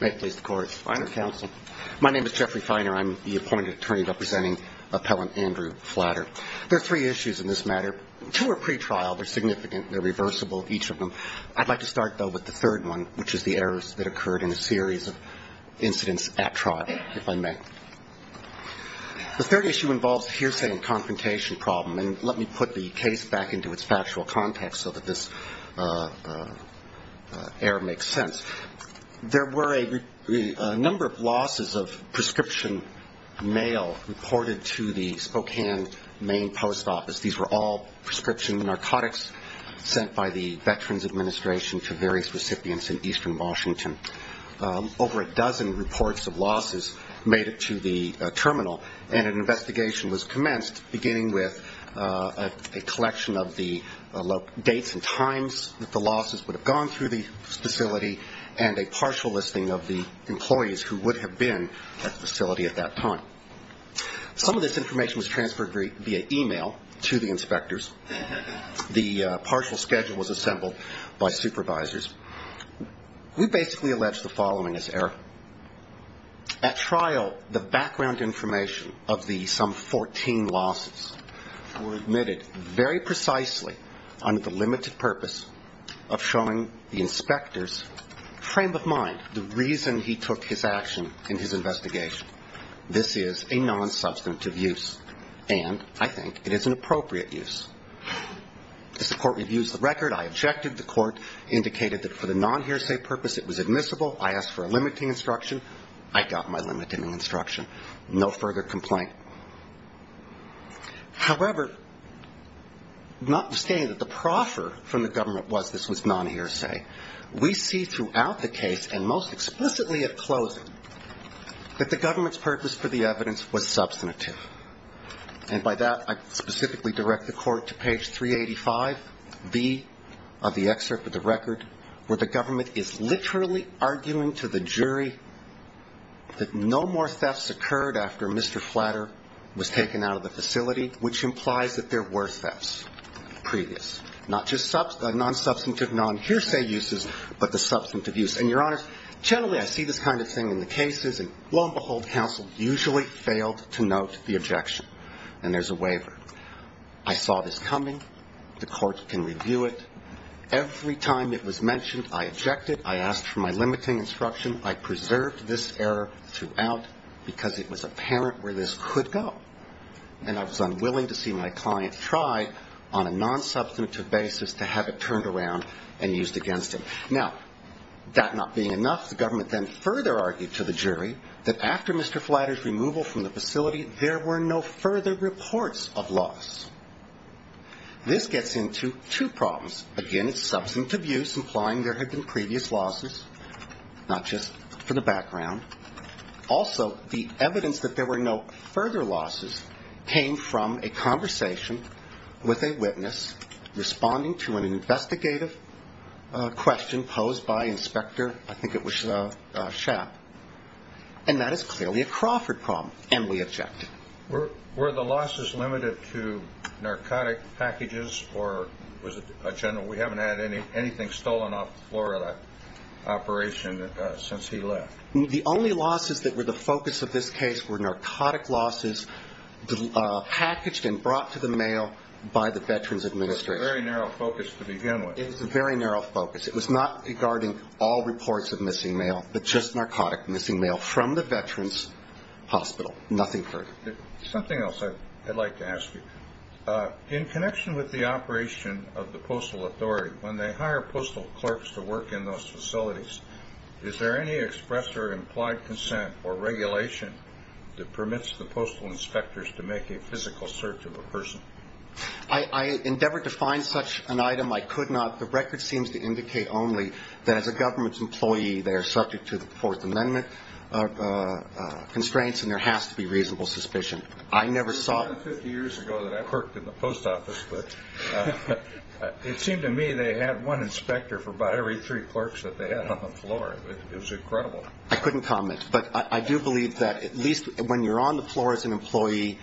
My name is Jeffrey Feiner, I'm the appointed attorney representing appellant Andrew Flatter. There are three issues in this matter. Two are pretrial, they're significant, they're reversible, each of them. I'd like to start, though, with the third one, which is the errors that occurred in a series of incidents at trial, if I may. The third issue involves hearsay and confrontation problem, and let me put the case back into its factual context so that this error makes sense. There were a number of losses of prescription mail reported to the Spokane main post office. These were all prescription narcotics sent by the Veterans Administration to various recipients in eastern Washington. Over a dozen reports of losses made it to the terminal, and an investigation was commenced, beginning with a collection of the dates and times that the losses would have gone through the facility, and a number of other reports. And a partial listing of the employees who would have been at the facility at that time. Some of this information was transferred via e-mail to the inspectors. The partial schedule was assembled by supervisors. We basically allege the following as error. At trial, the background information of the some 14 losses were admitted very precisely, under the limited purpose of showing the inspectors that the losses were in fact, frame of mind, the reason he took his action in his investigation. This is a nonsubstantive use, and I think it is an appropriate use. As the court reviews the record, I objected. The court indicated that for the nonhearsay purpose it was admissible. I asked for a limiting instruction. I got my limiting instruction. No further complaint. However, notwithstanding that the proffer from the government was this was nonhearsay, we see throughout the case, and most explicitly at closing, that the government's purpose for the evidence was substantive. And by that, I specifically direct the court to page 385B of the excerpt of the record, where the government is literally arguing to the jury that this was a nonhearsay. That no more thefts occurred after Mr. Flatter was taken out of the facility, which implies that there were thefts previous. Not just nonsubstantive nonhearsay uses, but the substantive use. And, Your Honors, generally I see this kind of thing in the cases, and lo and behold, counsel usually failed to note the objection. And there's a waiver. I saw this coming. The court can review it. Every time it was mentioned, I objected. I asked for my limiting instruction. I preserved this error throughout, because it was apparent where this could go. And I was unwilling to see my client try on a nonsubstantive basis to have it turned around and used against him. Now, that not being enough, the government then further argued to the jury that after Mr. Flatter's removal from the facility, there were no further reports of loss. This gets into two problems. Again, it's substantive use, implying there had been previous losses, not just for the background. Also, the evidence that there were no further losses came from a conversation with a witness responding to an investigative question posed by Inspector, I think it was Schapp. And that is clearly a Crawford problem, and we object. Were the losses limited to narcotic packages, or was it a general, we haven't had anything stolen off the floor of that operation since he left? The only losses that were the focus of this case were narcotic losses packaged and brought to the mail by the Veterans Administration. It was a very narrow focus to begin with. It was a very narrow focus. It was not regarding all reports of missing mail, but just narcotic missing mail from the Veterans Hospital. Nothing further. Something else I'd like to ask you. In connection with the operation of the Postal Authority, when they hire postal clerks to work in those facilities, is there any express or implied consent or regulation that permits the postal inspectors to make a physical search of a person? I endeavored to find such an item. I could not. The record seems to indicate only that as a government employee, they are subject to the Fourth Amendment constraints, and there has to be reasonable suspicion. It was more than 50 years ago that I worked in the post office. It seemed to me they had one inspector for about every three clerks that they had on the floor. It was incredible. I couldn't comment, but I do believe that at least when you're on the floor as an employee,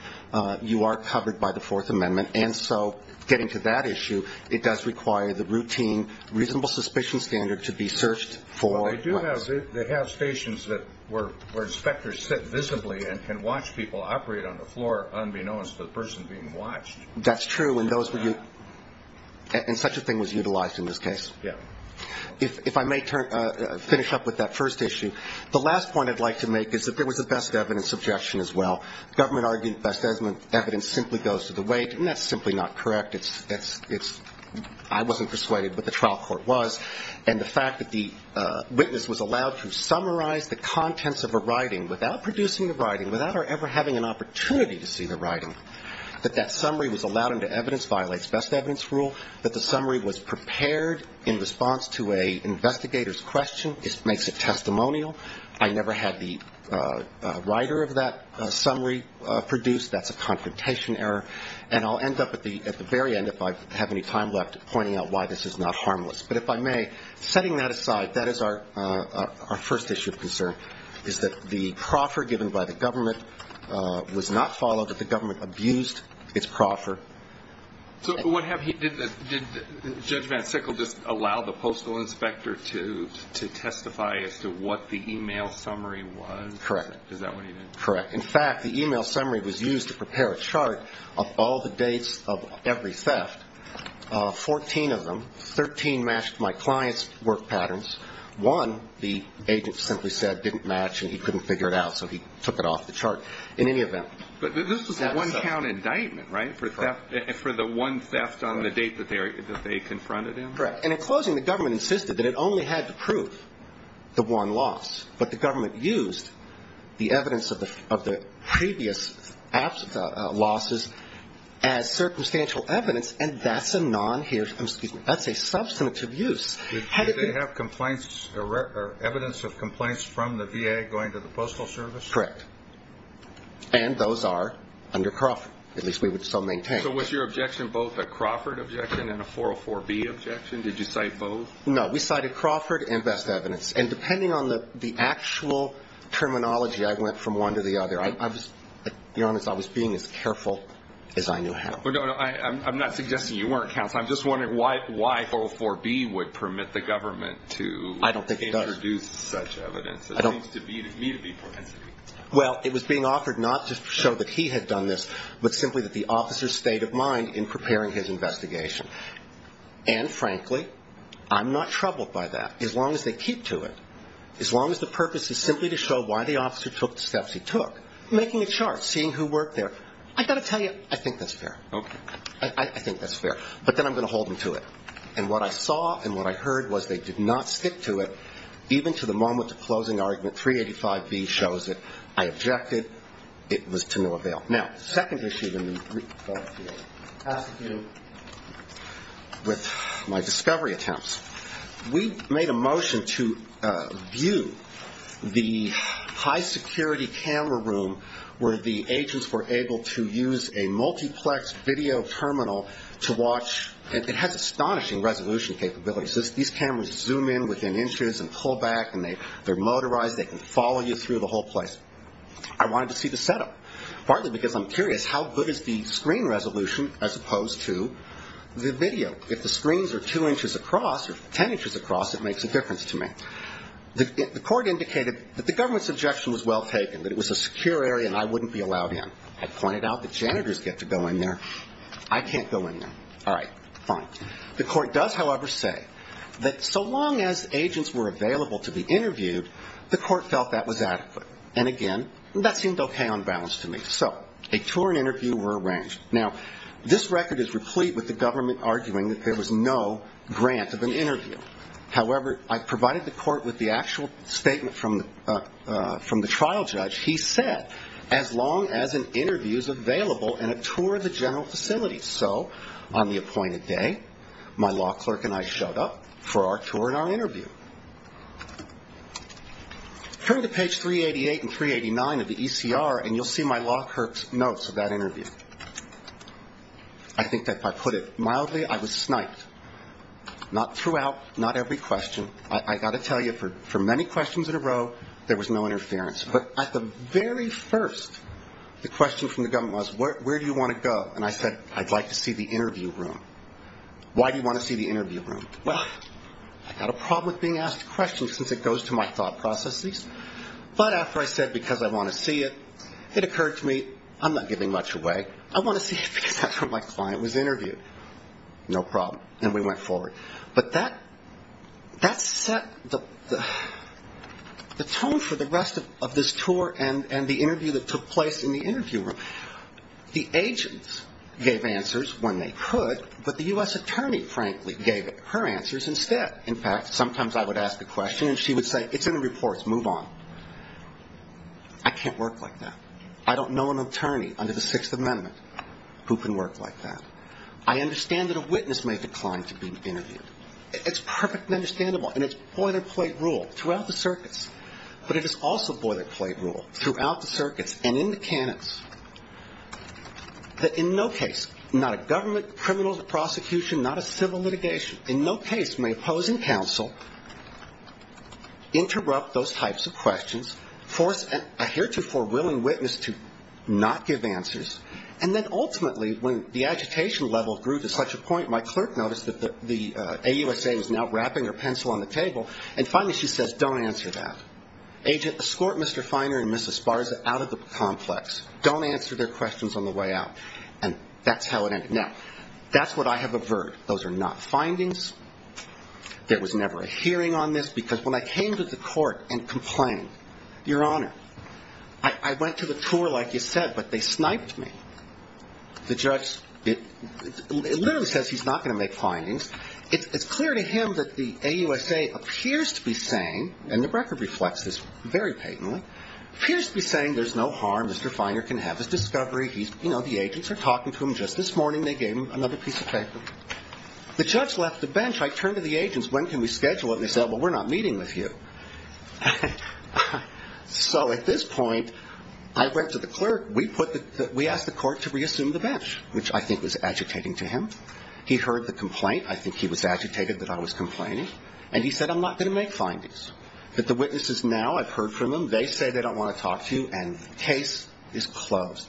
you are covered by the Fourth Amendment. And so getting to that issue, it does require the routine reasonable suspicion standard to be searched for. They have stations where inspectors sit visibly and can watch people operate on the floor unbeknownst to the person being watched. That's true. And such a thing was utilized in this case. If I may finish up with that first issue, the last point I'd like to make is that there was a best evidence objection as well. The government argued best evidence simply goes to the weight, and that's simply not correct. I wasn't persuaded, but the trial court was. And the fact that the witness was allowed to summarize the contents of a writing without producing the writing, without her ever having an opportunity to see the writing, that that summary was allowed under evidence violates best evidence rule, that the summary was prepared in response to an investigator's question, makes it testimonial, I never had the writer of that summary produced, that's a confrontation error. And I'll end up at the very end, if I have any time left, pointing out why this is not harmless. But if I may, setting that aside, that is our first issue of concern, is that the proffer given by the government was not followed, that the government abused its proffer. So did Judge Van Sickle just allow the postal inspector to testify as to what the email summary was? Correct. In fact, the email summary was used to prepare a chart of all the dates of every theft, 14 of them, 13 matched my client's work patterns, one the agent simply said didn't match and he couldn't figure it out, so he took it off the chart. But this was a one count indictment, right, for the one theft on the date that they confronted him? Correct. And in closing, the government insisted that it only had to prove the one loss, but the government used the evidence of the previous losses as circumstantial evidence, and that's a substantive use. Did they have evidence of complaints from the VA going to the Postal Service? Correct. And those are under Crawford, at least we would still maintain. So was your objection both a Crawford objection and a 404B objection, did you cite both? No, we cited Crawford and best evidence, and depending on the actual terminology I went from one to the other, to be honest, I was being as careful as I knew how. I'm not suggesting you weren't, counsel, I'm just wondering why 404B would permit the government to introduce such evidence. I don't think it does. Well, it was being offered not just to show that he had done this, but simply that the officer stayed in mind in preparing his investigation. And frankly, I'm not troubled by that, as long as they keep to it, as long as the purpose is simply to show why the officer took the steps he took, making a chart, seeing who worked there. I've got to tell you, I think that's fair. I think that's fair. But then I'm going to hold them to it. And what I saw and what I heard was they did not stick to it, even to the moment the closing argument 385B shows it. I objected, it was to no avail. Now, second issue with my discovery attempts. We made a motion to view the high security camera room where the agents were able to use a multiplex video terminal to watch, and it has astonishing resolution capabilities. These cameras zoom in within inches and pull back and they're motorized, they can follow you through the whole place. I wanted to see the setup, partly because I'm curious how good is the screen resolution as opposed to the video. If the screens are two inches across or ten inches across, it makes a difference to me. The court indicated that the government's objection was well taken, that it was a secure area and I wouldn't be allowed in. I pointed out that janitors get to go in there. I can't go in there. All right, fine. The court does, however, say that so long as agents were available to be interviewed, the court felt that was adequate. And again, that seemed okay on balance to me. So a tour and interview were arranged. Now, this record is replete with the government arguing that there was no grant of an interview. However, I provided the court with the actual statement from the trial judge. He said, as long as an interview is available and a tour of the general facility. So on the appointed day, my law clerk and I showed up for our tour and our interview. Turn to page 388 and 389 of the ECR and you'll see my law clerk's notes of that interview. I think that if I put it mildly, I was sniped. Not throughout, not every question. I've got to tell you, for many questions in a row, there was no interference. But at the very first, the question from the government was, where do you want to go? And I said, I'd like to see the interview room. Why do you want to see the interview room? Well, I've got a problem with being asked questions since it goes to my thought processes. But after I said, because I want to see it, it occurred to me, I'm not giving much away. I want to see it because that's where my client was interviewed. No problem. And we went forward. But that set the tone for the rest of this tour and the interview that took place in the interview room. The agents gave answers when they could, but the U.S. attorney, frankly, gave her answers instead. In fact, sometimes I would ask a question and she would say, it's in the reports, move on. I can't work like that. I don't know an attorney under the Sixth Amendment who can work like that. I understand that a witness may decline to be interviewed. It's perfectly understandable and it's boilerplate rule throughout the circuits. But it is also boilerplate rule throughout the circuits and in the canons that in no case, not a government criminal prosecution, not a civil litigation, in no case may opposing counsel interrupt those types of questions, force a heretofore willing witness to not give answers, and then ultimately when the agitation level grew to such a point, my clerk noticed that the AUSA was now wrapping her pencil on the table, and finally she says, don't answer that. Agent, escort Mr. Feiner and Mrs. Sparza out of the complex. Don't answer their questions on the way out. And that's how it ended. Now, that's what I have averred. Those are not findings. There was never a hearing on this because when I came to the court and complained, Your Honor, I went to the tour like you said, but they sniped me. The judge, it literally says he's not going to make findings. It's clear to him that the AUSA appears to be saying, and the record reflects this very patently, appears to be saying there's no harm. Mr. Feiner can have his discovery. The agents are talking to him just this morning. They gave him another piece of paper. The judge left the bench. I turned to the agents. When can we schedule it? They said, well, we're not meeting with you. So at this point, I went to the clerk. We asked the court to reassume the bench, which I think was agitating to him. He heard the complaint. I think he was agitated that I was complaining. And he said I'm not going to make findings, that the witnesses now, I've heard from them. They say they don't want to talk to you, and the case is closed.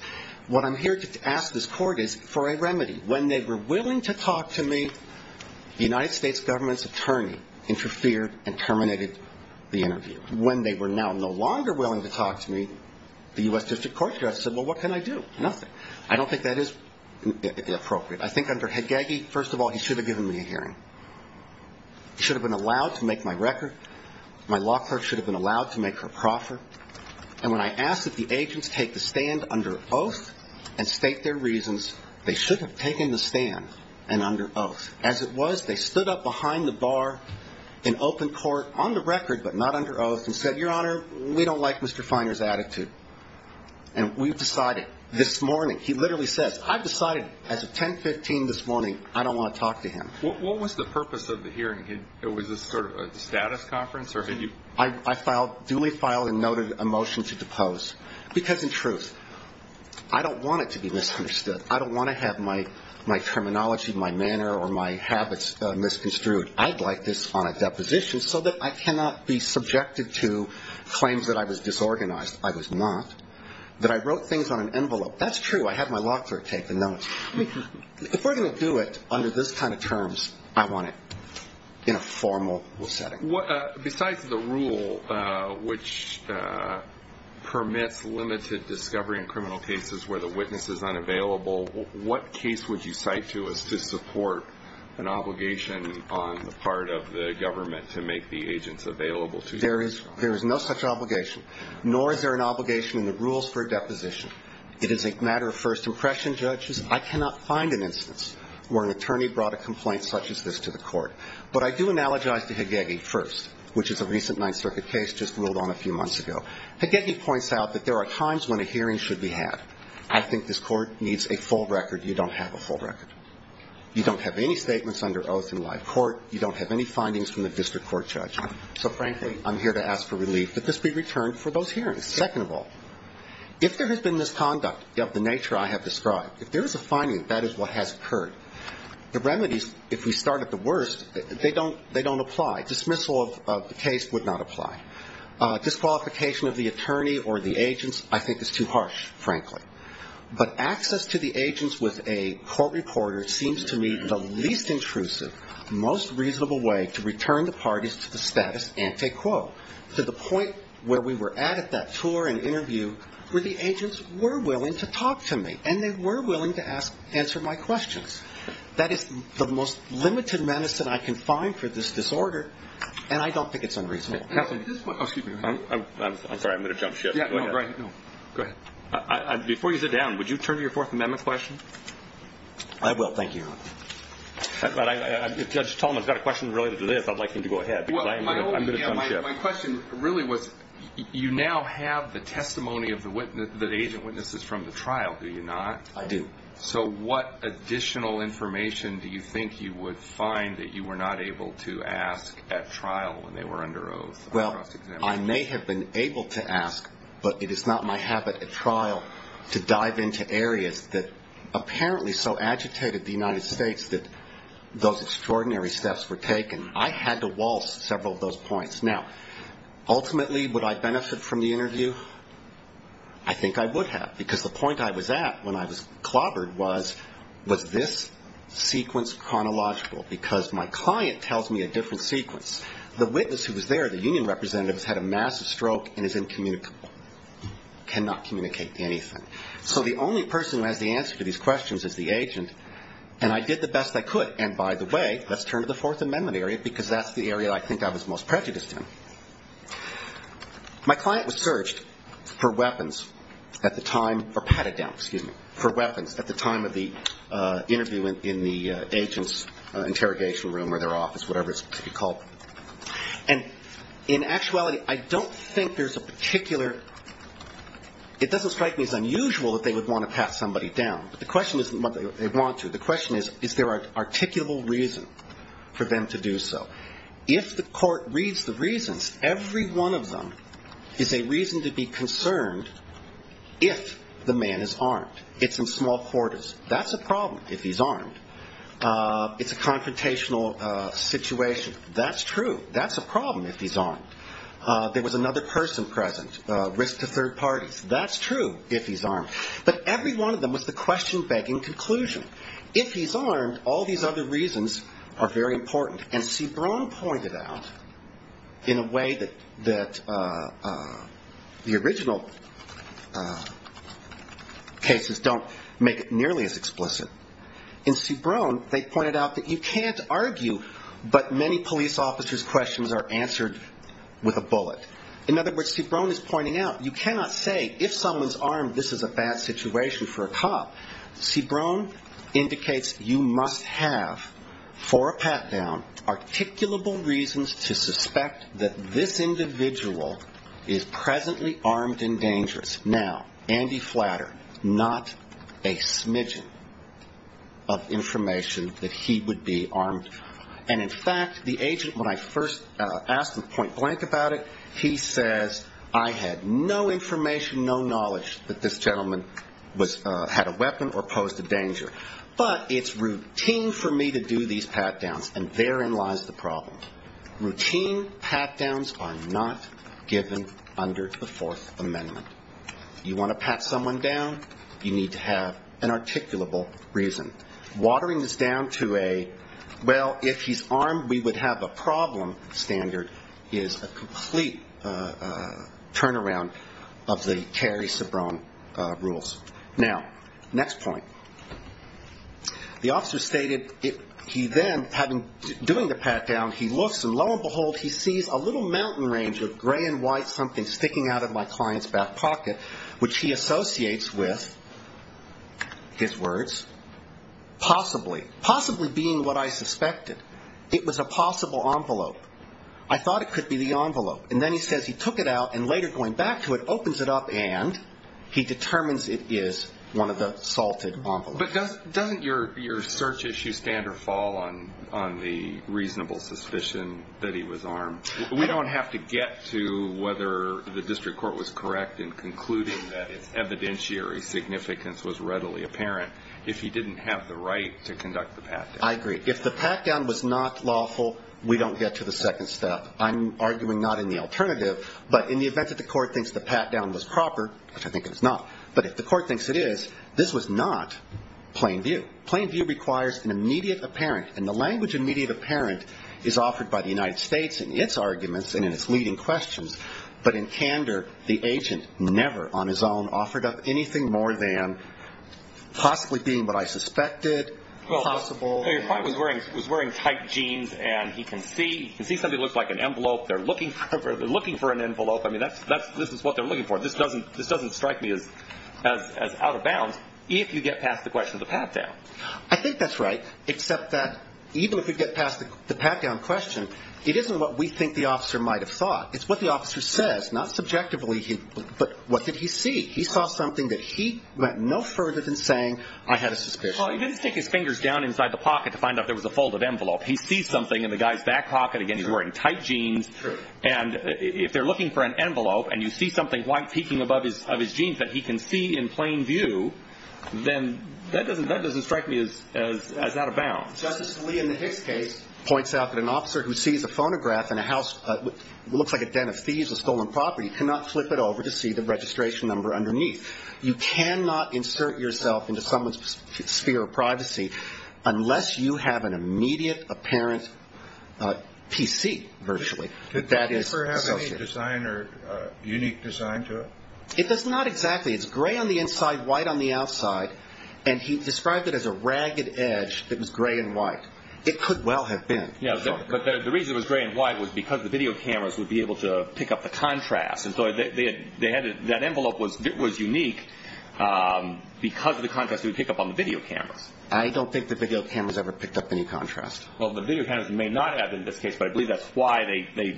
What I'm here to ask this court is for a remedy. When they were willing to talk to me, the United States government's attorney interfered and terminated the interview. When they were now no longer willing to talk to me, the U.S. District Court judge said, well, what can I do? Nothing. I don't think that is appropriate. I think under Hagegi, first of all, he should have given me a hearing. He should have been allowed to make my record. My law clerk should have been allowed to make her proffer. And when I asked that the agents take the stand under oath and state their reasons, they should have taken the stand and under oath. As it was, they stood up behind the bar in open court on the record, but not under oath, and said, Your Honor, we don't like Mr. Finer's attitude, and we've decided this morning. He literally says, I've decided as of 10.15 this morning I don't want to talk to him. What was the purpose of the hearing? Was this sort of a status conference? I duly filed and noted a motion to depose, because in truth, I don't want it to be misunderstood. I don't want to have my terminology, my manner, or my habits misconstrued. I'd like this on a deposition so that I cannot be subjected to claims that I was disorganized. I was not. That I wrote things on an envelope. That's true. I had my law clerk take the notes. If we're going to do it under this kind of terms, I want it in a formal setting. Besides the rule which permits limited discovery in criminal cases where the witness is unavailable, what case would you cite to us to support an obligation on the part of the government to make the agents available to you? There is no such obligation, nor is there an obligation in the rules for a deposition. It is a matter of first impression, judges. I cannot find an instance where an attorney brought a complaint such as this to the court. But I do analogize to Hagegi first, which is a recent Ninth Circuit case just ruled on a few months ago. Hagegi points out that there are times when a hearing should be had. I think this Court needs a full record. You don't have a full record. You don't have any statements under oath in live court. You don't have any findings from the district court judge. So, frankly, I'm here to ask for relief that this be returned for those hearings. Second of all, if there has been misconduct of the nature I have described, if there is a finding that that is what has occurred, the remedies, if we start at the worst, they don't apply. Dismissal of the case would not apply. Disqualification of the attorney or the agents I think is too harsh, frankly. But access to the agents with a court reporter seems to me the least intrusive, most reasonable way to return the parties to the status ante quo. To the point where we were at, at that tour and interview, where the agents were willing to talk to me. And they were willing to answer my questions. That is the most limited medicine I can find for this disorder, and I don't think it's unreasonable. I'm sorry, I'm going to jump ship. Before you sit down, would you turn to your Fourth Amendment question? I will, thank you. If Judge Tolman has a question related to this, I'd like him to go ahead. My question really was, you now have the testimony of the agent witnesses from the trial, do you not? I do. So what additional information do you think you would find that you were not able to ask at trial when they were under oath? Well, I may have been able to ask, but it is not my habit at trial to dive into areas that apparently so agitated the United States that those extraordinary steps were taken. I had to waltz several of those points. Now, ultimately, would I benefit from the interview? I think I would have, because the point I was at when I was clobbered was, was this sequence chronological? Because my client tells me a different sequence. The witness who was there, the union representative, has had a massive stroke and is incommunicable, cannot communicate anything. So the only person who has the answer to these questions is the agent, and I did the best I could. And by the way, let's turn to the Fourth Amendment area, because that's the area I think I was most prejudiced in. My client was searched for weapons at the time, or patted down, excuse me, for weapons at the time of the interview in the agent's interview. In the interrogation room or their office, whatever it's called. And in actuality, I don't think there's a particular – it doesn't strike me as unusual that they would want to pat somebody down. But the question isn't whether they want to. The question is, is there an articulable reason for them to do so? If the court reads the reasons, every one of them is a reason to be concerned if the man is armed. It's in small quarters. That's a problem if he's armed. It's a confrontational situation. That's true. That's a problem if he's armed. There was another person present, risk to third parties. That's true if he's armed. But every one of them was the question-begging conclusion. If he's armed, all these other reasons are very important. And Cibrone pointed out in a way that the original cases don't make it nearly as explicit. In Cibrone, they pointed out that you can't argue, but many police officers' questions are answered with a bullet. In other words, Cibrone is pointing out you cannot say if someone's armed, this is a bad situation for a cop. Cibrone indicates you must have, for a pat-down, articulable reasons to suspect that this individual is presently armed and dangerous. Now, Andy Flatter, not a smidgen of information that he would be armed. And in fact, the agent, when I first asked him point-blank about it, he says, I had no information, no knowledge that this gentleman had a weapon or posed a danger. But it's routine for me to do these pat-downs, and therein lies the problem. Routine pat-downs are not given under the Fourth Amendment. You want to pat someone down, you need to have an articulable reason. Watering this down to a, well, if he's armed, we would have a problem, standard, is a complete lie. That's the turnaround of the Cary-Cibrone rules. Now, next point. The officer stated he then, doing the pat-down, he looks, and lo and behold, he sees a little mountain range of gray and white something sticking out of my client's back pocket, which he associates with, his words, possibly. Possibly being what I suspected. It was a possible envelope. I thought it could be the envelope. And then he says he took it out, and later going back to it, opens it up, and he determines it is one of the salted envelopes. But doesn't your search issue stand or fall on the reasonable suspicion that he was armed? We don't have to get to whether the district court was correct in concluding that its evidentiary significance was readily apparent if he didn't have the right to conduct the pat-down. If it was not lawful, we don't get to the second step. I'm arguing not in the alternative, but in the event that the court thinks the pat-down was proper, which I think it is not, but if the court thinks it is, this was not plain view. Plain view requires an immediate apparent, and the language of immediate apparent is offered by the United States in its arguments and in its leading questions. But in candor, the agent never on his own offered up anything more than possibly being what I suspected, possible. Your client was wearing tight jeans, and he can see something that looks like an envelope. They're looking for an envelope. I mean, this is what they're looking for. This doesn't strike me as out of bounds if you get past the question of the pat-down. I think that's right, except that even if we get past the pat-down question, it isn't what we think the officer might have thought. It's what the officer says, not subjectively, but what did he see? He saw something that he went no further than saying, I had a suspicion. Well, he didn't stick his fingers down inside the pocket to find out there was a folded envelope. He sees something in the guy's back pocket. Again, he's wearing tight jeans. And if they're looking for an envelope and you see something white peeking above his jeans that he can see in plain view, then that doesn't strike me as out of bounds. Justice Lee in the Hicks case points out that an officer who sees a phonograph in a house that looks like a den of thieves with stolen property cannot flip it over to see the registration number underneath. You cannot insert yourself into someone's sphere of privacy unless you have an immediate apparent PC, virtually, that is associated. Did the officer have any design or unique design to it? It does not exactly. It's gray on the inside, white on the outside. And he described it as a ragged edge that was gray and white. It could well have been. But the reason it was gray and white was because the video cameras would be able to pick up the contrast. And so that envelope was unique because of the contrast it would pick up on the video cameras. I don't think the video cameras ever picked up any contrast. Well, the video cameras may not have in this case, but I believe that's why they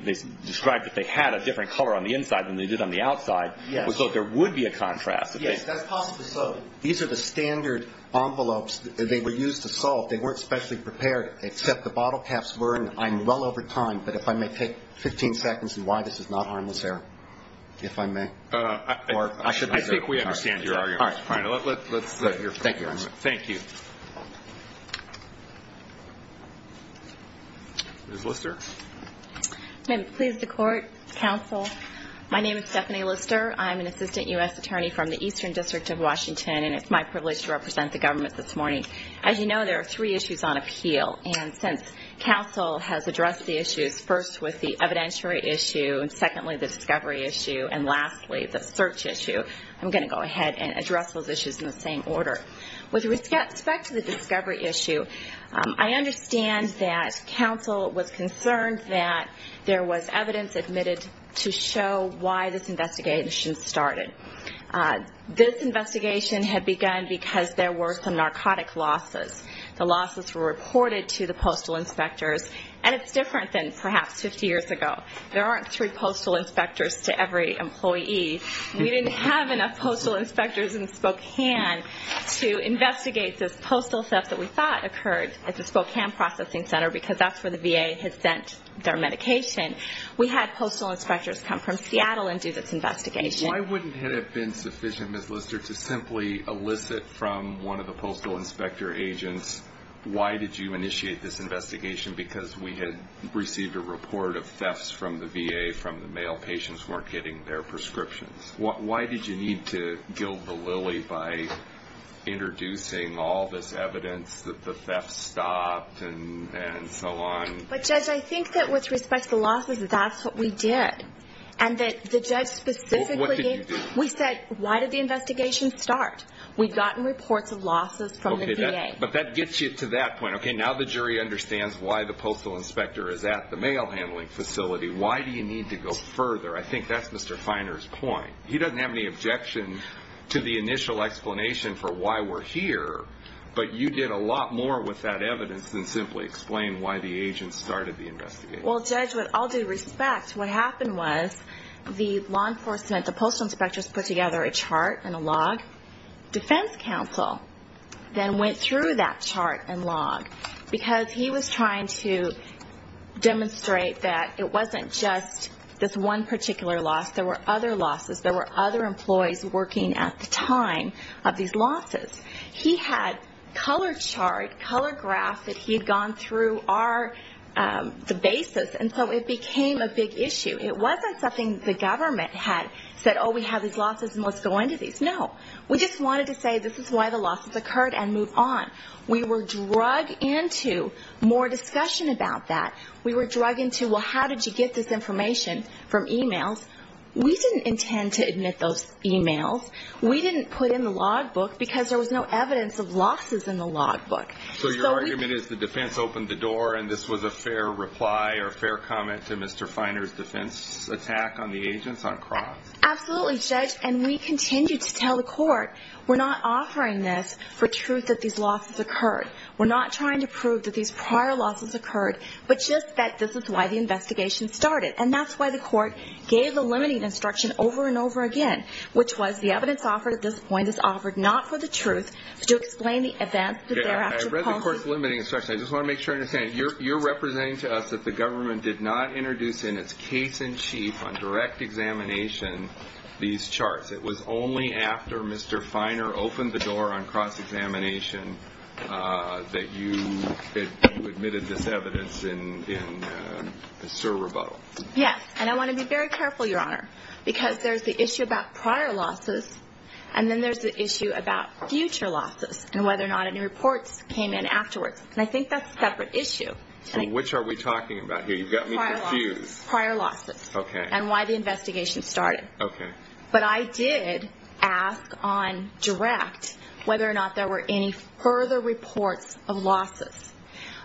described that they had a different color on the inside than they did on the outside. So there would be a contrast. Yes, that's possibly so. These are the standard envelopes. They were used to solve. They weren't specially prepared, except the bottle caps were. I'm well over time, but if I may take 15 seconds and why this is not harmless error, if I may. I think we understand your argument. Thank you. Ms. Lister. May it please the court, counsel. My name is Stephanie Lister. I'm an assistant U.S. attorney from the Eastern District of Washington. And it's my privilege to represent the government this morning. As you know, there are three issues on appeal. And since counsel has addressed the issues, first with the evidentiary issue, and secondly, the discovery issue, and lastly, the search issue, I'm going to go ahead and address those issues in the same order. With respect to the discovery issue, I understand that counsel was concerned that there was evidence admitted to show why this investigation started. This investigation had begun because there were some narcotic losses. The losses were reported to the postal inspectors, and it's different than perhaps 50 years ago. There aren't three postal inspectors to every employee. We didn't have enough postal inspectors in Spokane to investigate this postal theft that we thought occurred at the Spokane Processing Center, because that's where the VA had sent their medication. We had postal inspectors come from Seattle and do this investigation. Why wouldn't it have been sufficient, Ms. Lister, to simply elicit from one of the postal inspector agents, why did you initiate this investigation? Because we had received a report of thefts from the VA from the male patients who weren't getting their prescriptions. Why did you need to gild the lily by introducing all this evidence that the theft stopped and so on? But, Judge, I think that with respect to the losses, that's what we did. And that the judge specifically gave... Why the postal inspector is at the mail handling facility, why do you need to go further? I think that's Mr. Finer's point. He doesn't have any objection to the initial explanation for why we're here, but you did a lot more with that evidence than simply explain why the agents started the investigation. Well, Judge, with all due respect, what happened was the law enforcement, the postal inspectors, put together a chart and a log. And our defense counsel then went through that chart and log, because he was trying to demonstrate that it wasn't just this one particular loss. There were other losses. There were other employees working at the time of these losses. He had color chart, color graph that he had gone through the basis, and so it became a big issue. It wasn't something the government had said, oh, we have these losses and let's go into these. No, we just wanted to say this is why the losses occurred and move on. We were drug into more discussion about that. We were drug into, well, how did you get this information from emails? We didn't intend to admit those emails. We didn't put in the log book because there was no evidence of losses in the log book. So your argument is the defense opened the door and this was a fair reply or a fair comment to Mr. Finer's defense attack on the agents on cross? Absolutely, Judge, and we continued to tell the court we're not offering this for truth that these losses occurred. We're not trying to prove that these prior losses occurred, but just that this is why the investigation started. And that's why the court gave the limiting instruction over and over again, which was the evidence offered at this point is offered not for the truth, but to explain the events that there actually posed. I read the court's limiting instruction. I just want to make sure I understand. You're representing to us that the government did not introduce in its case-in-chief on direct examination these charts. It was only after Mr. Finer opened the door on cross-examination that you admitted this evidence in the SIR rebuttal. Yes, and I want to be very careful, Your Honor, because there's the issue about prior losses, and then there's the issue about future losses and whether or not any reports came in afterwards. And I think that's a separate issue. Which are we talking about here? You've got me confused. Prior losses and why the investigation started. But I did ask on direct whether or not there were any further reports of losses.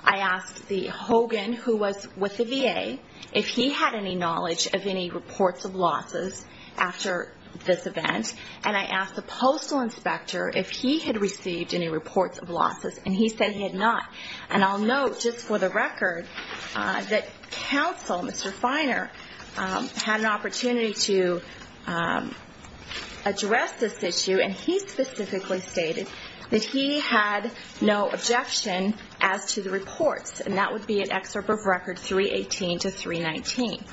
I asked the Hogan who was with the VA if he had any knowledge of any reports of losses after this event, and I asked the postal inspector if he had received any reports of losses, and he said he had not. And I'll note just for the record that counsel, Mr. Finer, had an opportunity to address this issue, and he specifically stated that he had no objection as to the reports, and that would be an excerpt of Record 318 to 319.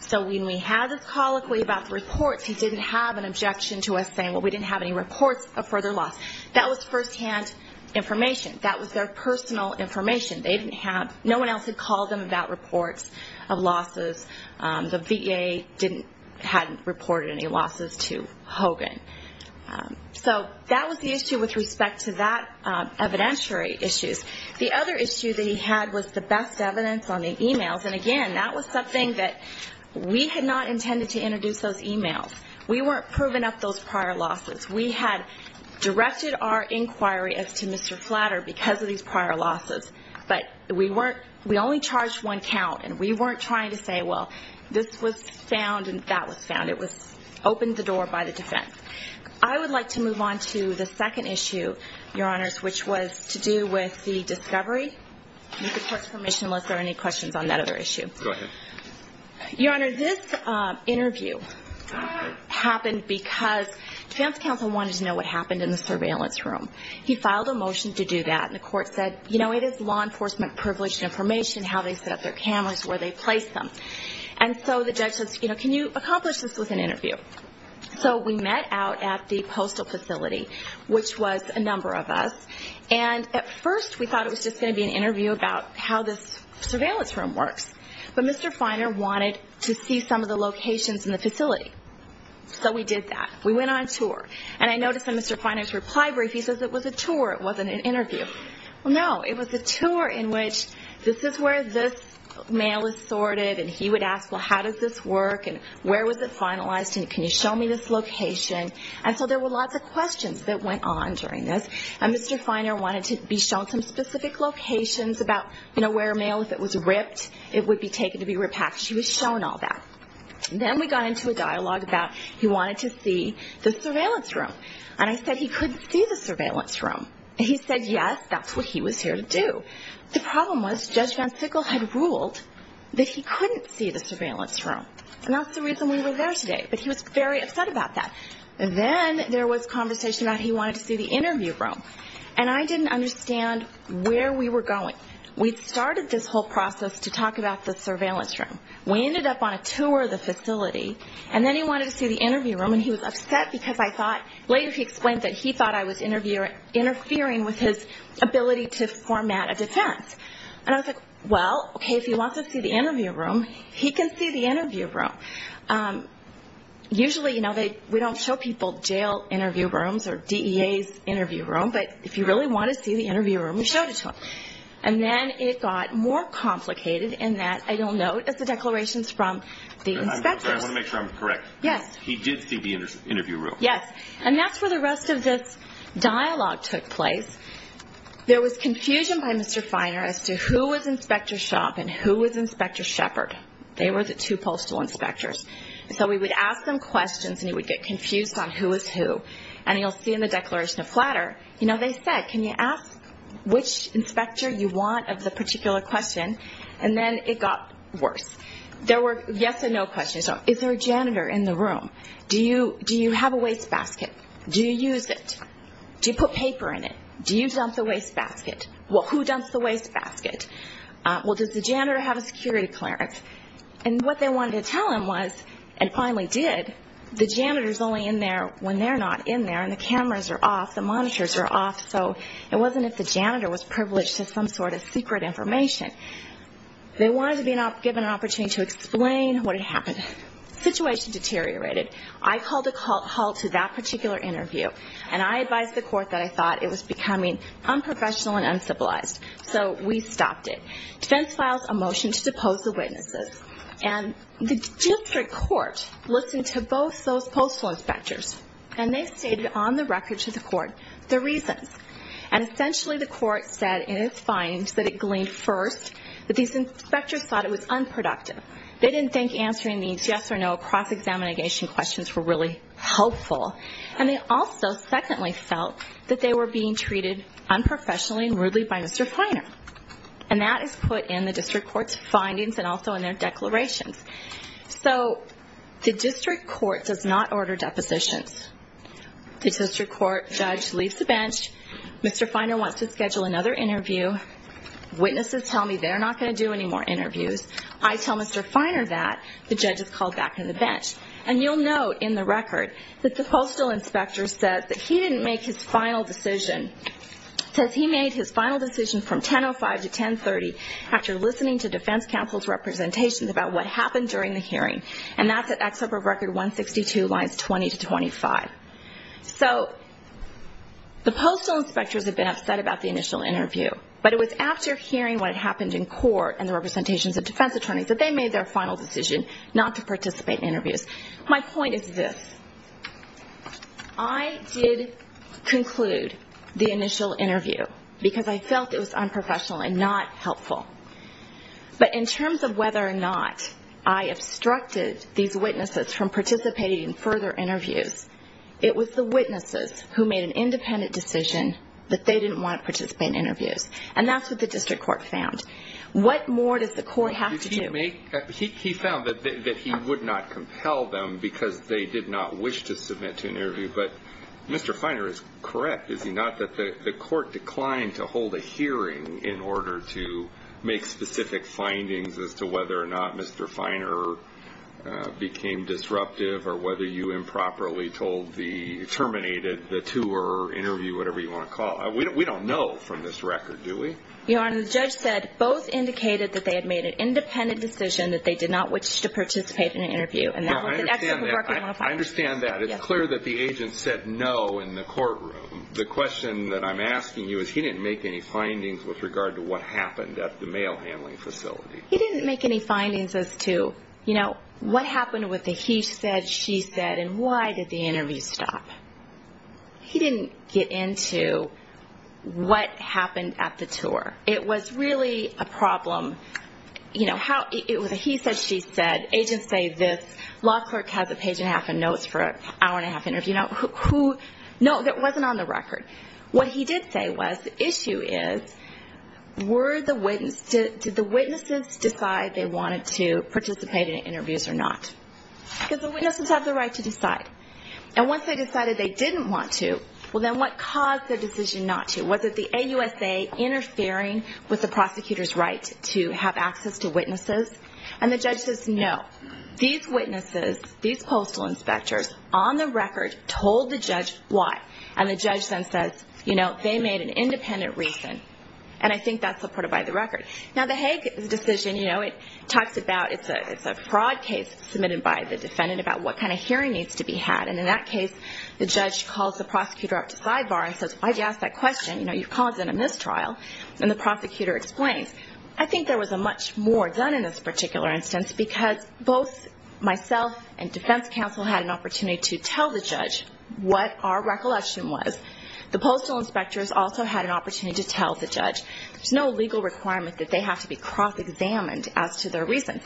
So when we had this colloquy about the reports, he didn't have an objection to us saying, well, we didn't have any reports of further loss. That was firsthand information. That was their personal information. They didn't have, no one else had called them about reports of losses. The VA hadn't reported any losses to Hogan. So that was the issue with respect to that evidentiary issues. The other issue that he had was the best evidence on the e-mails, and again, that was something that we had not intended to introduce those e-mails. We weren't proving up those prior losses. We had directed our inquiry as to Mr. Flatter because of these prior losses, but we only charged one count, and we weren't trying to say, well, this was found and that was found. It was opened the door by the defense. I would like to move on to the second issue, Your Honors, which was to do with the discovery. You can put permission unless there are any questions on that other issue. Go ahead. Your Honor, this interview happened because defense counsel wanted to know what happened in the surveillance room. He filed a motion to do that, and the court said, you know, it is law enforcement privilege information, how they set up their cameras, where they place them. And so the judge said, you know, can you accomplish this with an interview? So we met out at the postal facility, which was a number of us, and at first we thought it was just going to be an interview about how this surveillance room works, but Mr. Feiner wanted to see some of the locations in the facility. So we did that. We went on tour, and I noticed in Mr. Feiner's reply brief, he says it was a tour, it wasn't an interview. No, it was a tour in which this is where this mail is sorted, and he would ask, well, how does this work, and where was it finalized, and can you show me this location? And so there were lots of questions that went on during this, and Mr. Feiner wanted to be shown some specific locations about, you know, where mail, if it was ripped, it would be taken to be repacked. He was shown all that. Then we got into a dialogue about he wanted to see the surveillance room, and I said he couldn't see the surveillance room. He said yes, that's what he was here to do. The problem was Judge Van Sickle had ruled that he couldn't see the surveillance room, and that's the reason we were there today, but he was very upset about that. Then there was conversation about he wanted to see the interview room, and I didn't understand where we were going. We'd started this whole process to talk about the surveillance room. We ended up on a tour of the facility, and then he wanted to see the interview room, and he was upset because I thought later he explained that he thought I was interfering with his ability to format a defense. And I was like, well, okay, if he wants to see the interview room, he can see the interview room. Usually, you know, we don't show people jail interview rooms or DEA's interview room, but if you really want to see the interview room, we showed it to him. And then it got more complicated in that I don't know if it's the declarations from the inspectors. I want to make sure I'm correct. Yes. He did see the interview room. Yes. And that's where the rest of this dialogue took place. There was confusion by Mr. Feiner as to who was Inspector Schaub and who was Inspector Shepard. They were the two postal inspectors. So we would ask them questions, and he would get confused on who was who. And you'll see in the declaration of flatter, you know, they said, can you ask which inspector you want of the particular question, and then it got worse. There were yes and no questions. Is there a janitor in the room? Do you have a wastebasket? Do you use it? Do you put paper in it? Do you dump the wastebasket? Well, who dumps the wastebasket? Well, does the janitor have a security clearance? And what they wanted to tell him was, and finally did, the janitor's only in there when they're not in there, and the cameras are off, the monitors are off, so it wasn't as if the janitor was privileged to some sort of secret information. They wanted to be given an opportunity to explain what had happened. The situation deteriorated. I called a halt to that particular interview, and I advised the court that I thought it was becoming unprofessional and uncivilized. So we stopped it. Defense files a motion to depose the witnesses, and the district court listened to both those postal inspectors, and they stated on the record to the court the reasons. And essentially the court said in its findings that it gleaned first that these inspectors thought it was unproductive. They didn't think answering these yes or no cross-examination questions were really helpful, and they also secondly felt that they were being treated unprofessionally and rudely by Mr. Feiner, and that is put in the district court's findings and also in their declarations. So the district court does not order depositions. The district court judge leaves the bench. Mr. Feiner wants to schedule another interview. Witnesses tell me they're not going to do any more interviews. I tell Mr. Feiner that. The judge is called back on the bench. And you'll note in the record that the postal inspector says that he didn't make his final decision, says he made his final decision from 10.05 to 10.30 after listening to defense counsel's representations about what happened during the hearing, and that's at Excerpt of Record 162, lines 20 to 25. So the postal inspectors had been upset about the initial interview, but it was after hearing what had happened in court and the representations of defense attorneys that they made their final decision not to participate in interviews. My point is this. I did conclude the initial interview because I felt it was unprofessional and not helpful. But in terms of whether or not I obstructed these witnesses from participating in further interviews, it was the witnesses who made an independent decision that they didn't want to participate in interviews, and that's what the district court found. What more does the court have to do? He found that he would not compel them because they did not wish to submit to an interview, but that the court declined to hold a hearing in order to make specific findings as to whether or not Mr. Finer became disruptive or whether you improperly terminated the tour, interview, whatever you want to call it. We don't know from this record, do we? Your Honor, the judge said both indicated that they had made an independent decision that they did not wish to participate in an interview. I understand that. It's clear that the agent said no in the courtroom. The question that I'm asking you is he didn't make any findings with regard to what happened at the mail handling facility. He didn't make any findings as to what happened with the he said, she said, and why did the interview stop. He didn't get into what happened at the tour. It was really a problem. It was a he said, she said, agents say this, law clerk has a page and a half of notes for an hour and a half interview. No, that wasn't on the record. What he did say was the issue is were the witnesses, did the witnesses decide they wanted to participate in interviews or not? Because the witnesses have the right to decide. And once they decided they didn't want to, well then what caused their decision not to? Was it the AUSA interfering with the prosecutor's right to have access to witnesses? And the judge says no. These witnesses, these postal inspectors on the record told the judge why. And the judge then says, you know, they made an independent reason. And I think that's supported by the record. Now, the Hague decision, you know, it talks about it's a fraud case submitted by the defendant about what kind of hearing needs to be had. And in that case, the judge calls the prosecutor up to sidebar and says, why did you ask that question? You know, you've caused a mistrial. And the prosecutor explains, I think there was much more done in this particular instance because both myself and defense counsel had an opportunity to tell the judge what our recollection was. The postal inspectors also had an opportunity to tell the judge. There's no legal requirement that they have to be cross-examined as to their reason.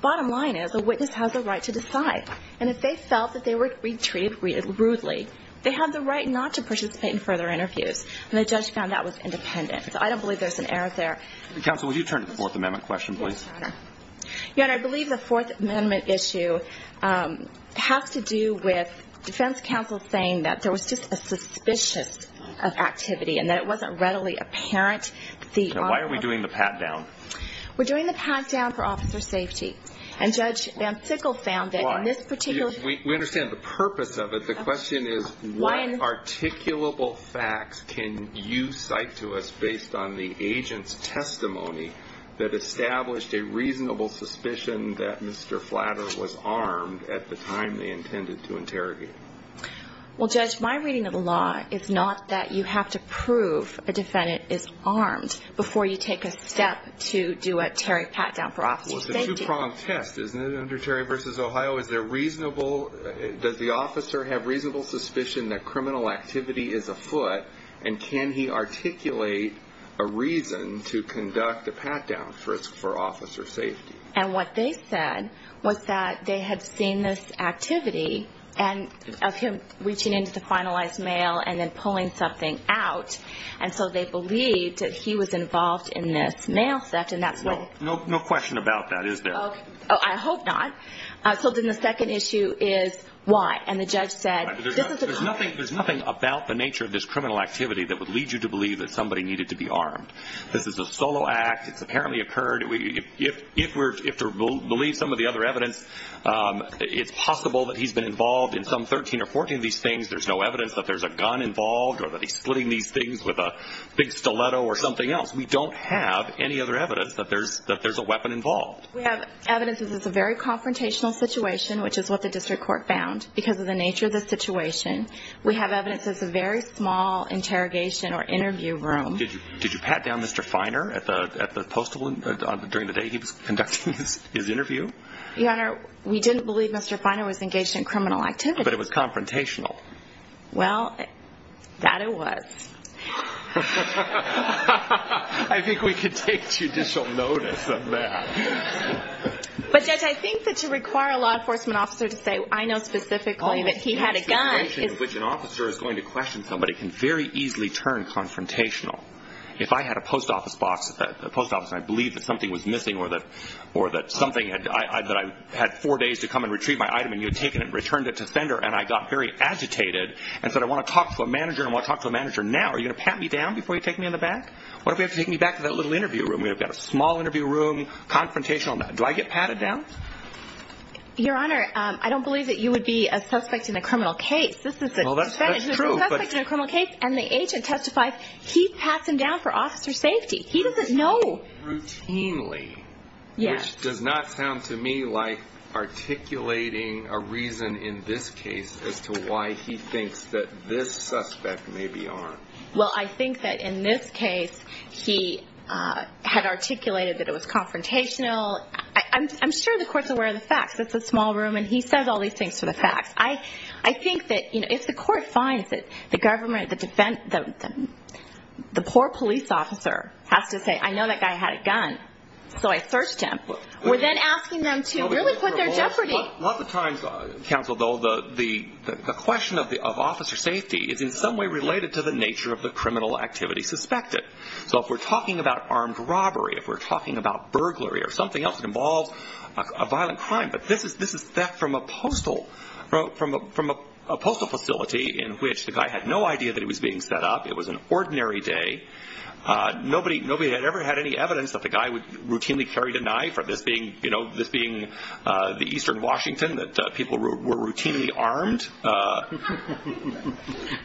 Bottom line is a witness has a right to decide. And if they felt that they were treated rudely, they have the right not to participate in further interviews. And the judge found that was independent. So I don't believe there's an error there. Counsel, would you turn to the Fourth Amendment question, please? Your Honor, I believe the Fourth Amendment issue has to do with defense counsel saying that there was just a suspicion of activity and that it wasn't readily apparent. Now, why are we doing the pat-down? We're doing the pat-down for officer safety. And Judge Van Sickle found that in this particular case. We understand the purpose of it. The question is what articulable facts can you cite to us based on the agent's testimony that established a reasonable suspicion that Mr. Flatter was armed at the time they intended to interrogate him? Well, Judge, my reading of the law is not that you have to prove a defendant is armed before you take a step to do a Terry pat-down for officer safety. Well, it's a two-pronged test, isn't it, under Terry v. Ohio? Is there reasonable – does the officer have reasonable suspicion that criminal activity is afoot? And can he articulate a reason to conduct a pat-down for officer safety? And what they said was that they had seen this activity of him reaching into the finalized mail and then pulling something out, and so they believed that he was involved in this mail theft. No question about that, is there? I hope not. So then the second issue is why. There's nothing about the nature of this criminal activity that would lead you to believe that somebody needed to be armed. This is a solo act. It's apparently occurred. If we're to believe some of the other evidence, it's possible that he's been involved in some 13 or 14 of these things. There's no evidence that there's a gun involved or that he's splitting these things with a big stiletto or something else. We don't have any other evidence that there's a weapon involved. We have evidence that this is a very confrontational situation, which is what the district court found, because of the nature of the situation. We have evidence that it's a very small interrogation or interview room. Did you pat down Mr. Feiner during the day he was conducting his interview? Your Honor, we didn't believe Mr. Feiner was engaged in criminal activity. But it was confrontational. Well, that it was. I think we could take judicial notice of that. But, Judge, I think that to require a law enforcement officer to say, I know specifically that he had a gun is... ...which an officer is going to question somebody can very easily turn confrontational. If I had a post office box, a post office, and I believed that something was missing or that I had four days to come and retrieve my item, and you had taken it and returned it to the sender, and I got very agitated and said, I want to talk to a manager and I want to talk to a manager now, are you going to pat me down before you take me in the back? What if you have to take me back to that little interview room? I mean, I've got a small interview room, confrontational. Do I get patted down? Your Honor, I don't believe that you would be a suspect in a criminal case. This is a defendant who is a suspect in a criminal case, and the agent testifies, he pats him down for officer safety. He doesn't know. Routinely? Yes. Which does not sound to me like articulating a reason in this case as to why he thinks that this suspect may be armed. Well, I think that in this case, he had articulated that it was confrontational. I'm sure the court's aware of the facts. It's a small room, and he says all these things for the facts. I think that if the court finds it, the government, the poor police officer has to say, I know that guy had a gun, so I searched him. We're then asking them to really put their jeopardy. A lot of times, counsel, though, the question of officer safety is in some way related to the nature of the criminal activity suspected. So if we're talking about armed robbery, if we're talking about burglary or something else that involves a violent crime, but this is theft from a postal facility in which the guy had no idea that he was being set up. It was an ordinary day. Nobody had ever had any evidence that the guy would routinely carry a knife or this being the eastern Washington that people were routinely armed.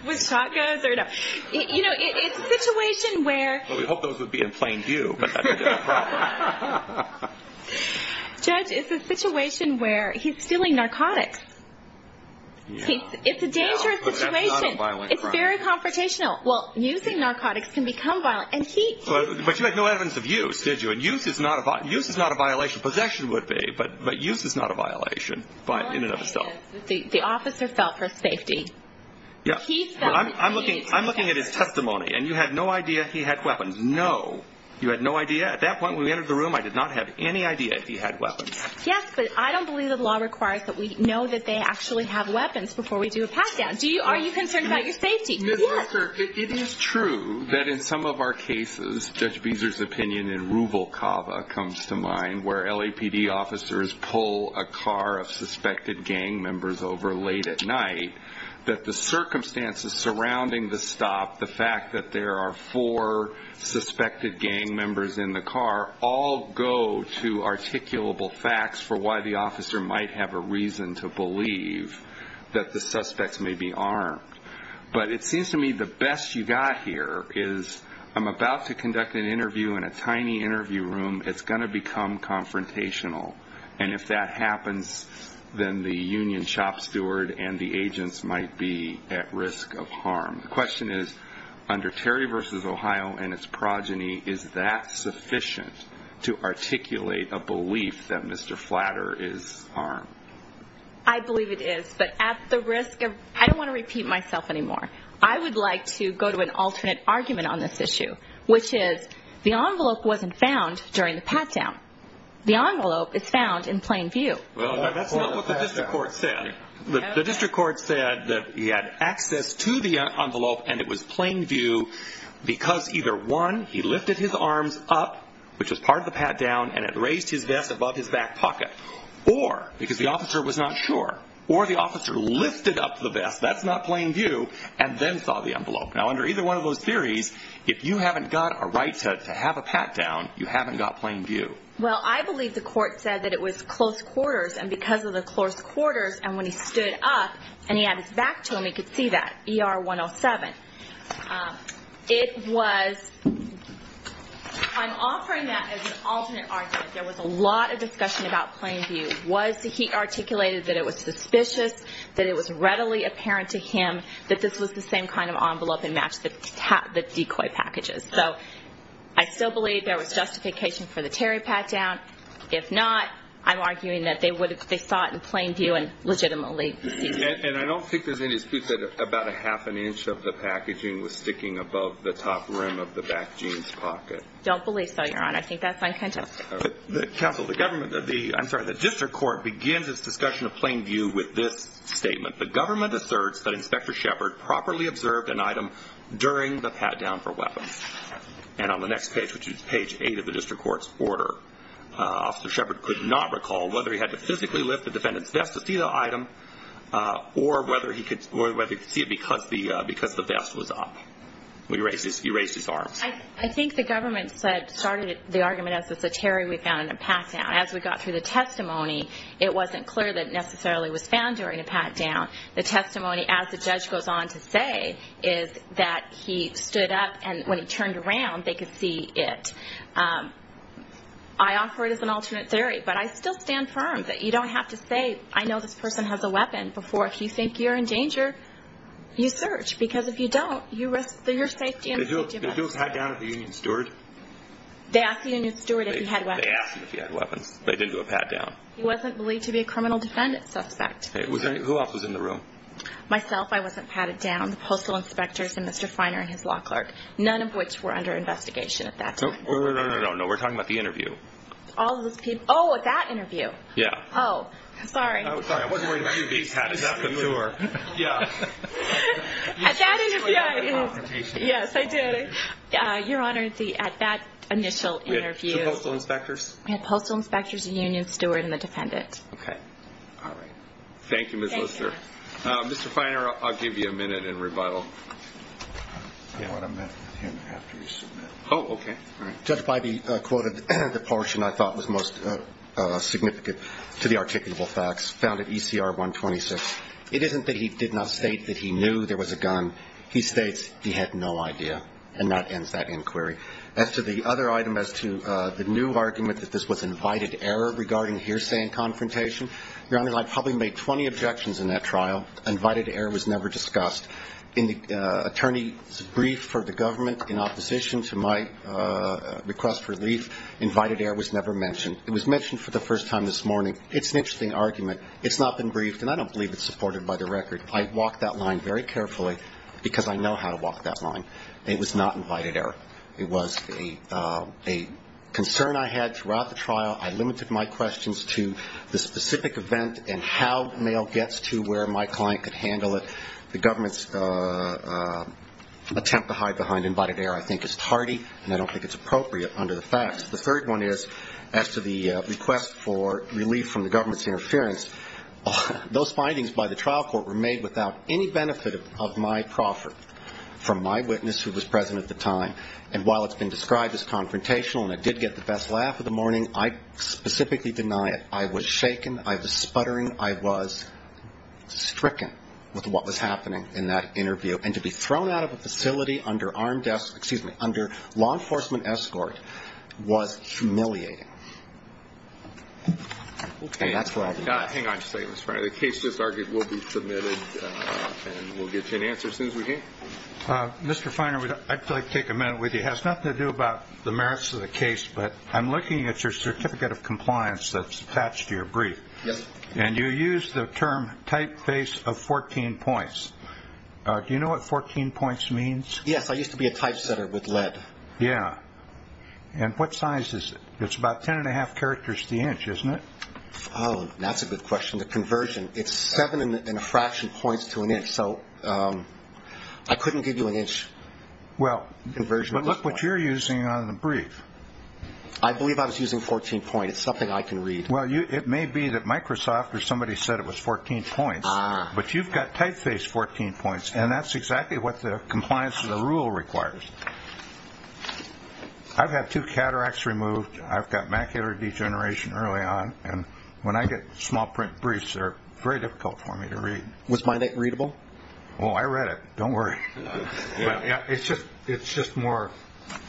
With shotguns or no? You know, it's a situation where- Well, we hope those would be in plain view, but that would be a problem. Judge, it's a situation where he's stealing narcotics. It's a dangerous situation. But that's not a violent crime. It's very confrontational. Well, using narcotics can become violent, and he- But you had no evidence of use, did you? Use is not a violation. Possession would be, but use is not a violation in and of itself. The officer fell for safety. He fell for safety. I'm looking at his testimony, and you had no idea he had weapons. No. You had no idea? At that point when we entered the room, I did not have any idea he had weapons. Yes, but I don't believe the law requires that we know that they actually have weapons before we do a pat-down. Are you concerned about your safety? Yes. Well, sir, it is true that in some of our cases, Judge Beezer's opinion in Ruvalcaba comes to mind, where LAPD officers pull a car of suspected gang members over late at night, that the circumstances surrounding the stop, the fact that there are four suspected gang members in the car, all go to articulable facts for why the officer might have a reason to believe that the suspects may be armed. But it seems to me the best you've got here is I'm about to conduct an interview in a tiny interview room. It's going to become confrontational. And if that happens, then the union shop steward and the agents might be at risk of harm. The question is, under Terry v. Ohio and its progeny, is that sufficient to articulate a belief that Mr. Flatter is armed? I believe it is. But at the risk of – I don't want to repeat myself anymore. I would like to go to an alternate argument on this issue, which is the envelope wasn't found during the pat-down. The envelope is found in plain view. That's not what the district court said. The district court said that he had access to the envelope, and it was plain view, because either, one, he lifted his arms up, which was part of the pat-down, and had raised his vest above his back pocket, or, because the officer was not sure, or the officer lifted up the vest, that's not plain view, and then saw the envelope. Now, under either one of those theories, if you haven't got a right to have a pat-down, you haven't got plain view. Well, I believe the court said that it was close quarters, and because of the close quarters, and when he stood up and he had his back to him, he could see that, ER 107. It was, I'm offering that as an alternate argument. There was a lot of discussion about plain view. Was he articulated that it was suspicious, that it was readily apparent to him that this was the same kind of envelope and matched the decoy packages? So I still believe there was justification for the Terry pat-down. If not, I'm arguing that they saw it in plain view and legitimately. And I don't think there's any dispute that about a half an inch of the packaging was sticking above the top rim of the back jeans pocket. Don't believe so, Your Honor. I think that's uncontested. Counsel, the government, I'm sorry, the district court begins its discussion of plain view with this statement. The government asserts that Inspector Shepard properly observed an item during the pat-down for weapons. And on the next page, which is page 8 of the district court's order, Officer Shepard could not recall whether he had to physically lift the defendant's vest to see the item or whether he could see it because the vest was up. He raised his arms. I think the government started the argument as it's a Terry we found in a pat-down. As we got through the testimony, it wasn't clear that it necessarily was found during a pat-down. The testimony, as the judge goes on to say, is that he stood up and when he turned around, they could see it. I offer it as an alternate theory, but I still stand firm that you don't have to say, I know this person has a weapon before if you think you're in danger, you search. Because if you don't, you risk your safety and the safety of others. Did you do a pat-down at the Union Steward? They asked the Union Steward if he had weapons. They asked him if he had weapons, but he didn't do a pat-down. He wasn't believed to be a criminal defendant suspect. Who else was in the room? Myself, I wasn't patted down. The postal inspectors and Mr. Finer and his law clerk, none of which were under investigation at that time. No, we're talking about the interview. Oh, at that interview? Yeah. Oh, sorry. Sorry, I wasn't worried about you being patted after the tour. Yeah. At that interview. Yes, I did. Your Honor, at that initial interview. The postal inspectors? The postal inspectors, the Union Steward, and the defendant. Okay. All right. Thank you, Ms. Lister. Mr. Finer, I'll give you a minute in rebuttal. I want to meet him after you submit. Oh, okay. Judge Bybee quoted the portion I thought was most significant to the articulable facts found at ECR 126. It isn't that he did not state that he knew there was a gun. He states he had no idea, and that ends that inquiry. As to the other item, as to the new argument that this was invited error regarding hearsay and confrontation, Your Honor, I probably made 20 objections in that trial. Invited error was never discussed. In the attorney's brief for the government in opposition to my request for relief, invited error was never mentioned. It was mentioned for the first time this morning. It's an interesting argument. It's not been briefed, and I don't believe it's supported by the record. I walked that line very carefully because I know how to walk that line. It was not invited error. It was a concern I had throughout the trial. I limited my questions to the specific event and how mail gets to where my client could handle it. The government's attempt to hide behind invited error I think is tardy, and I don't think it's appropriate under the facts. The third one is, as to the request for relief from the government's interference, those findings by the trial court were made without any benefit of my proffer from my witness, who was present at the time, and while it's been described as confrontational and I did get the best laugh of the morning, I specifically deny it. I was shaken. I was sputtering. I was stricken with what was happening in that interview, and to be thrown out of a facility under law enforcement escort was humiliating. Hang on just a second, Mr. Feiner. The case will be submitted, and we'll get you an answer as soon as we can. Mr. Feiner, I'd like to take a minute with you. It has nothing to do about the merits of the case, but I'm looking at your certificate of compliance that's attached to your brief. Yes. And you use the term typeface of 14 points. Do you know what 14 points means? Yes. I used to be a typesetter with lead. Yeah. And what size is it? It's about ten and a half characters to the inch, isn't it? Oh, that's a good question. The conversion, it's seven and a fraction points to an inch, so I couldn't give you an inch conversion. Well, but look what you're using on the brief. I believe I was using 14 points. It's something I can read. Well, it may be that Microsoft or somebody said it was 14 points, but you've got typeface 14 points, and that's exactly what the compliance of the rule requires. I've had two cataracts removed. I've got macular degeneration early on, and when I get small print briefs, they're very difficult for me to read. Was mine that readable? Oh, I read it. Don't worry. It's just more,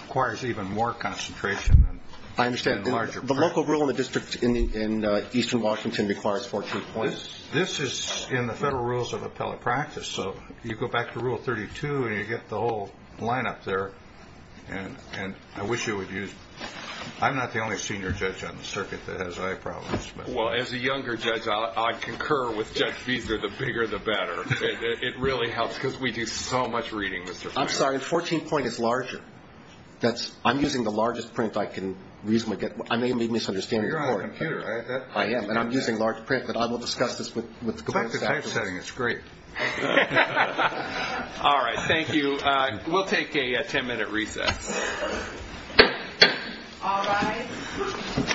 requires even more concentration. I understand. The local rule in the district in eastern Washington requires 14 points. This is in the federal rules of appellate practice, so you go back to Rule 32 and you get the whole line up there, and I wish you would use it. I'm not the only senior judge on the circuit that has eye problems. Well, as a younger judge, I concur with Judge Feeser. It really helps because we do so much reading, Mr. Feeser. I'm sorry. 14 points is larger. I'm using the largest print I can reasonably get. I may have made a misunderstanding of the court. You're on a computer. I am, and I'm using large print, but I will discuss this with the compliance staff. Check the type setting. It's great. All right. Thank you. We'll take a ten-minute recess. All right.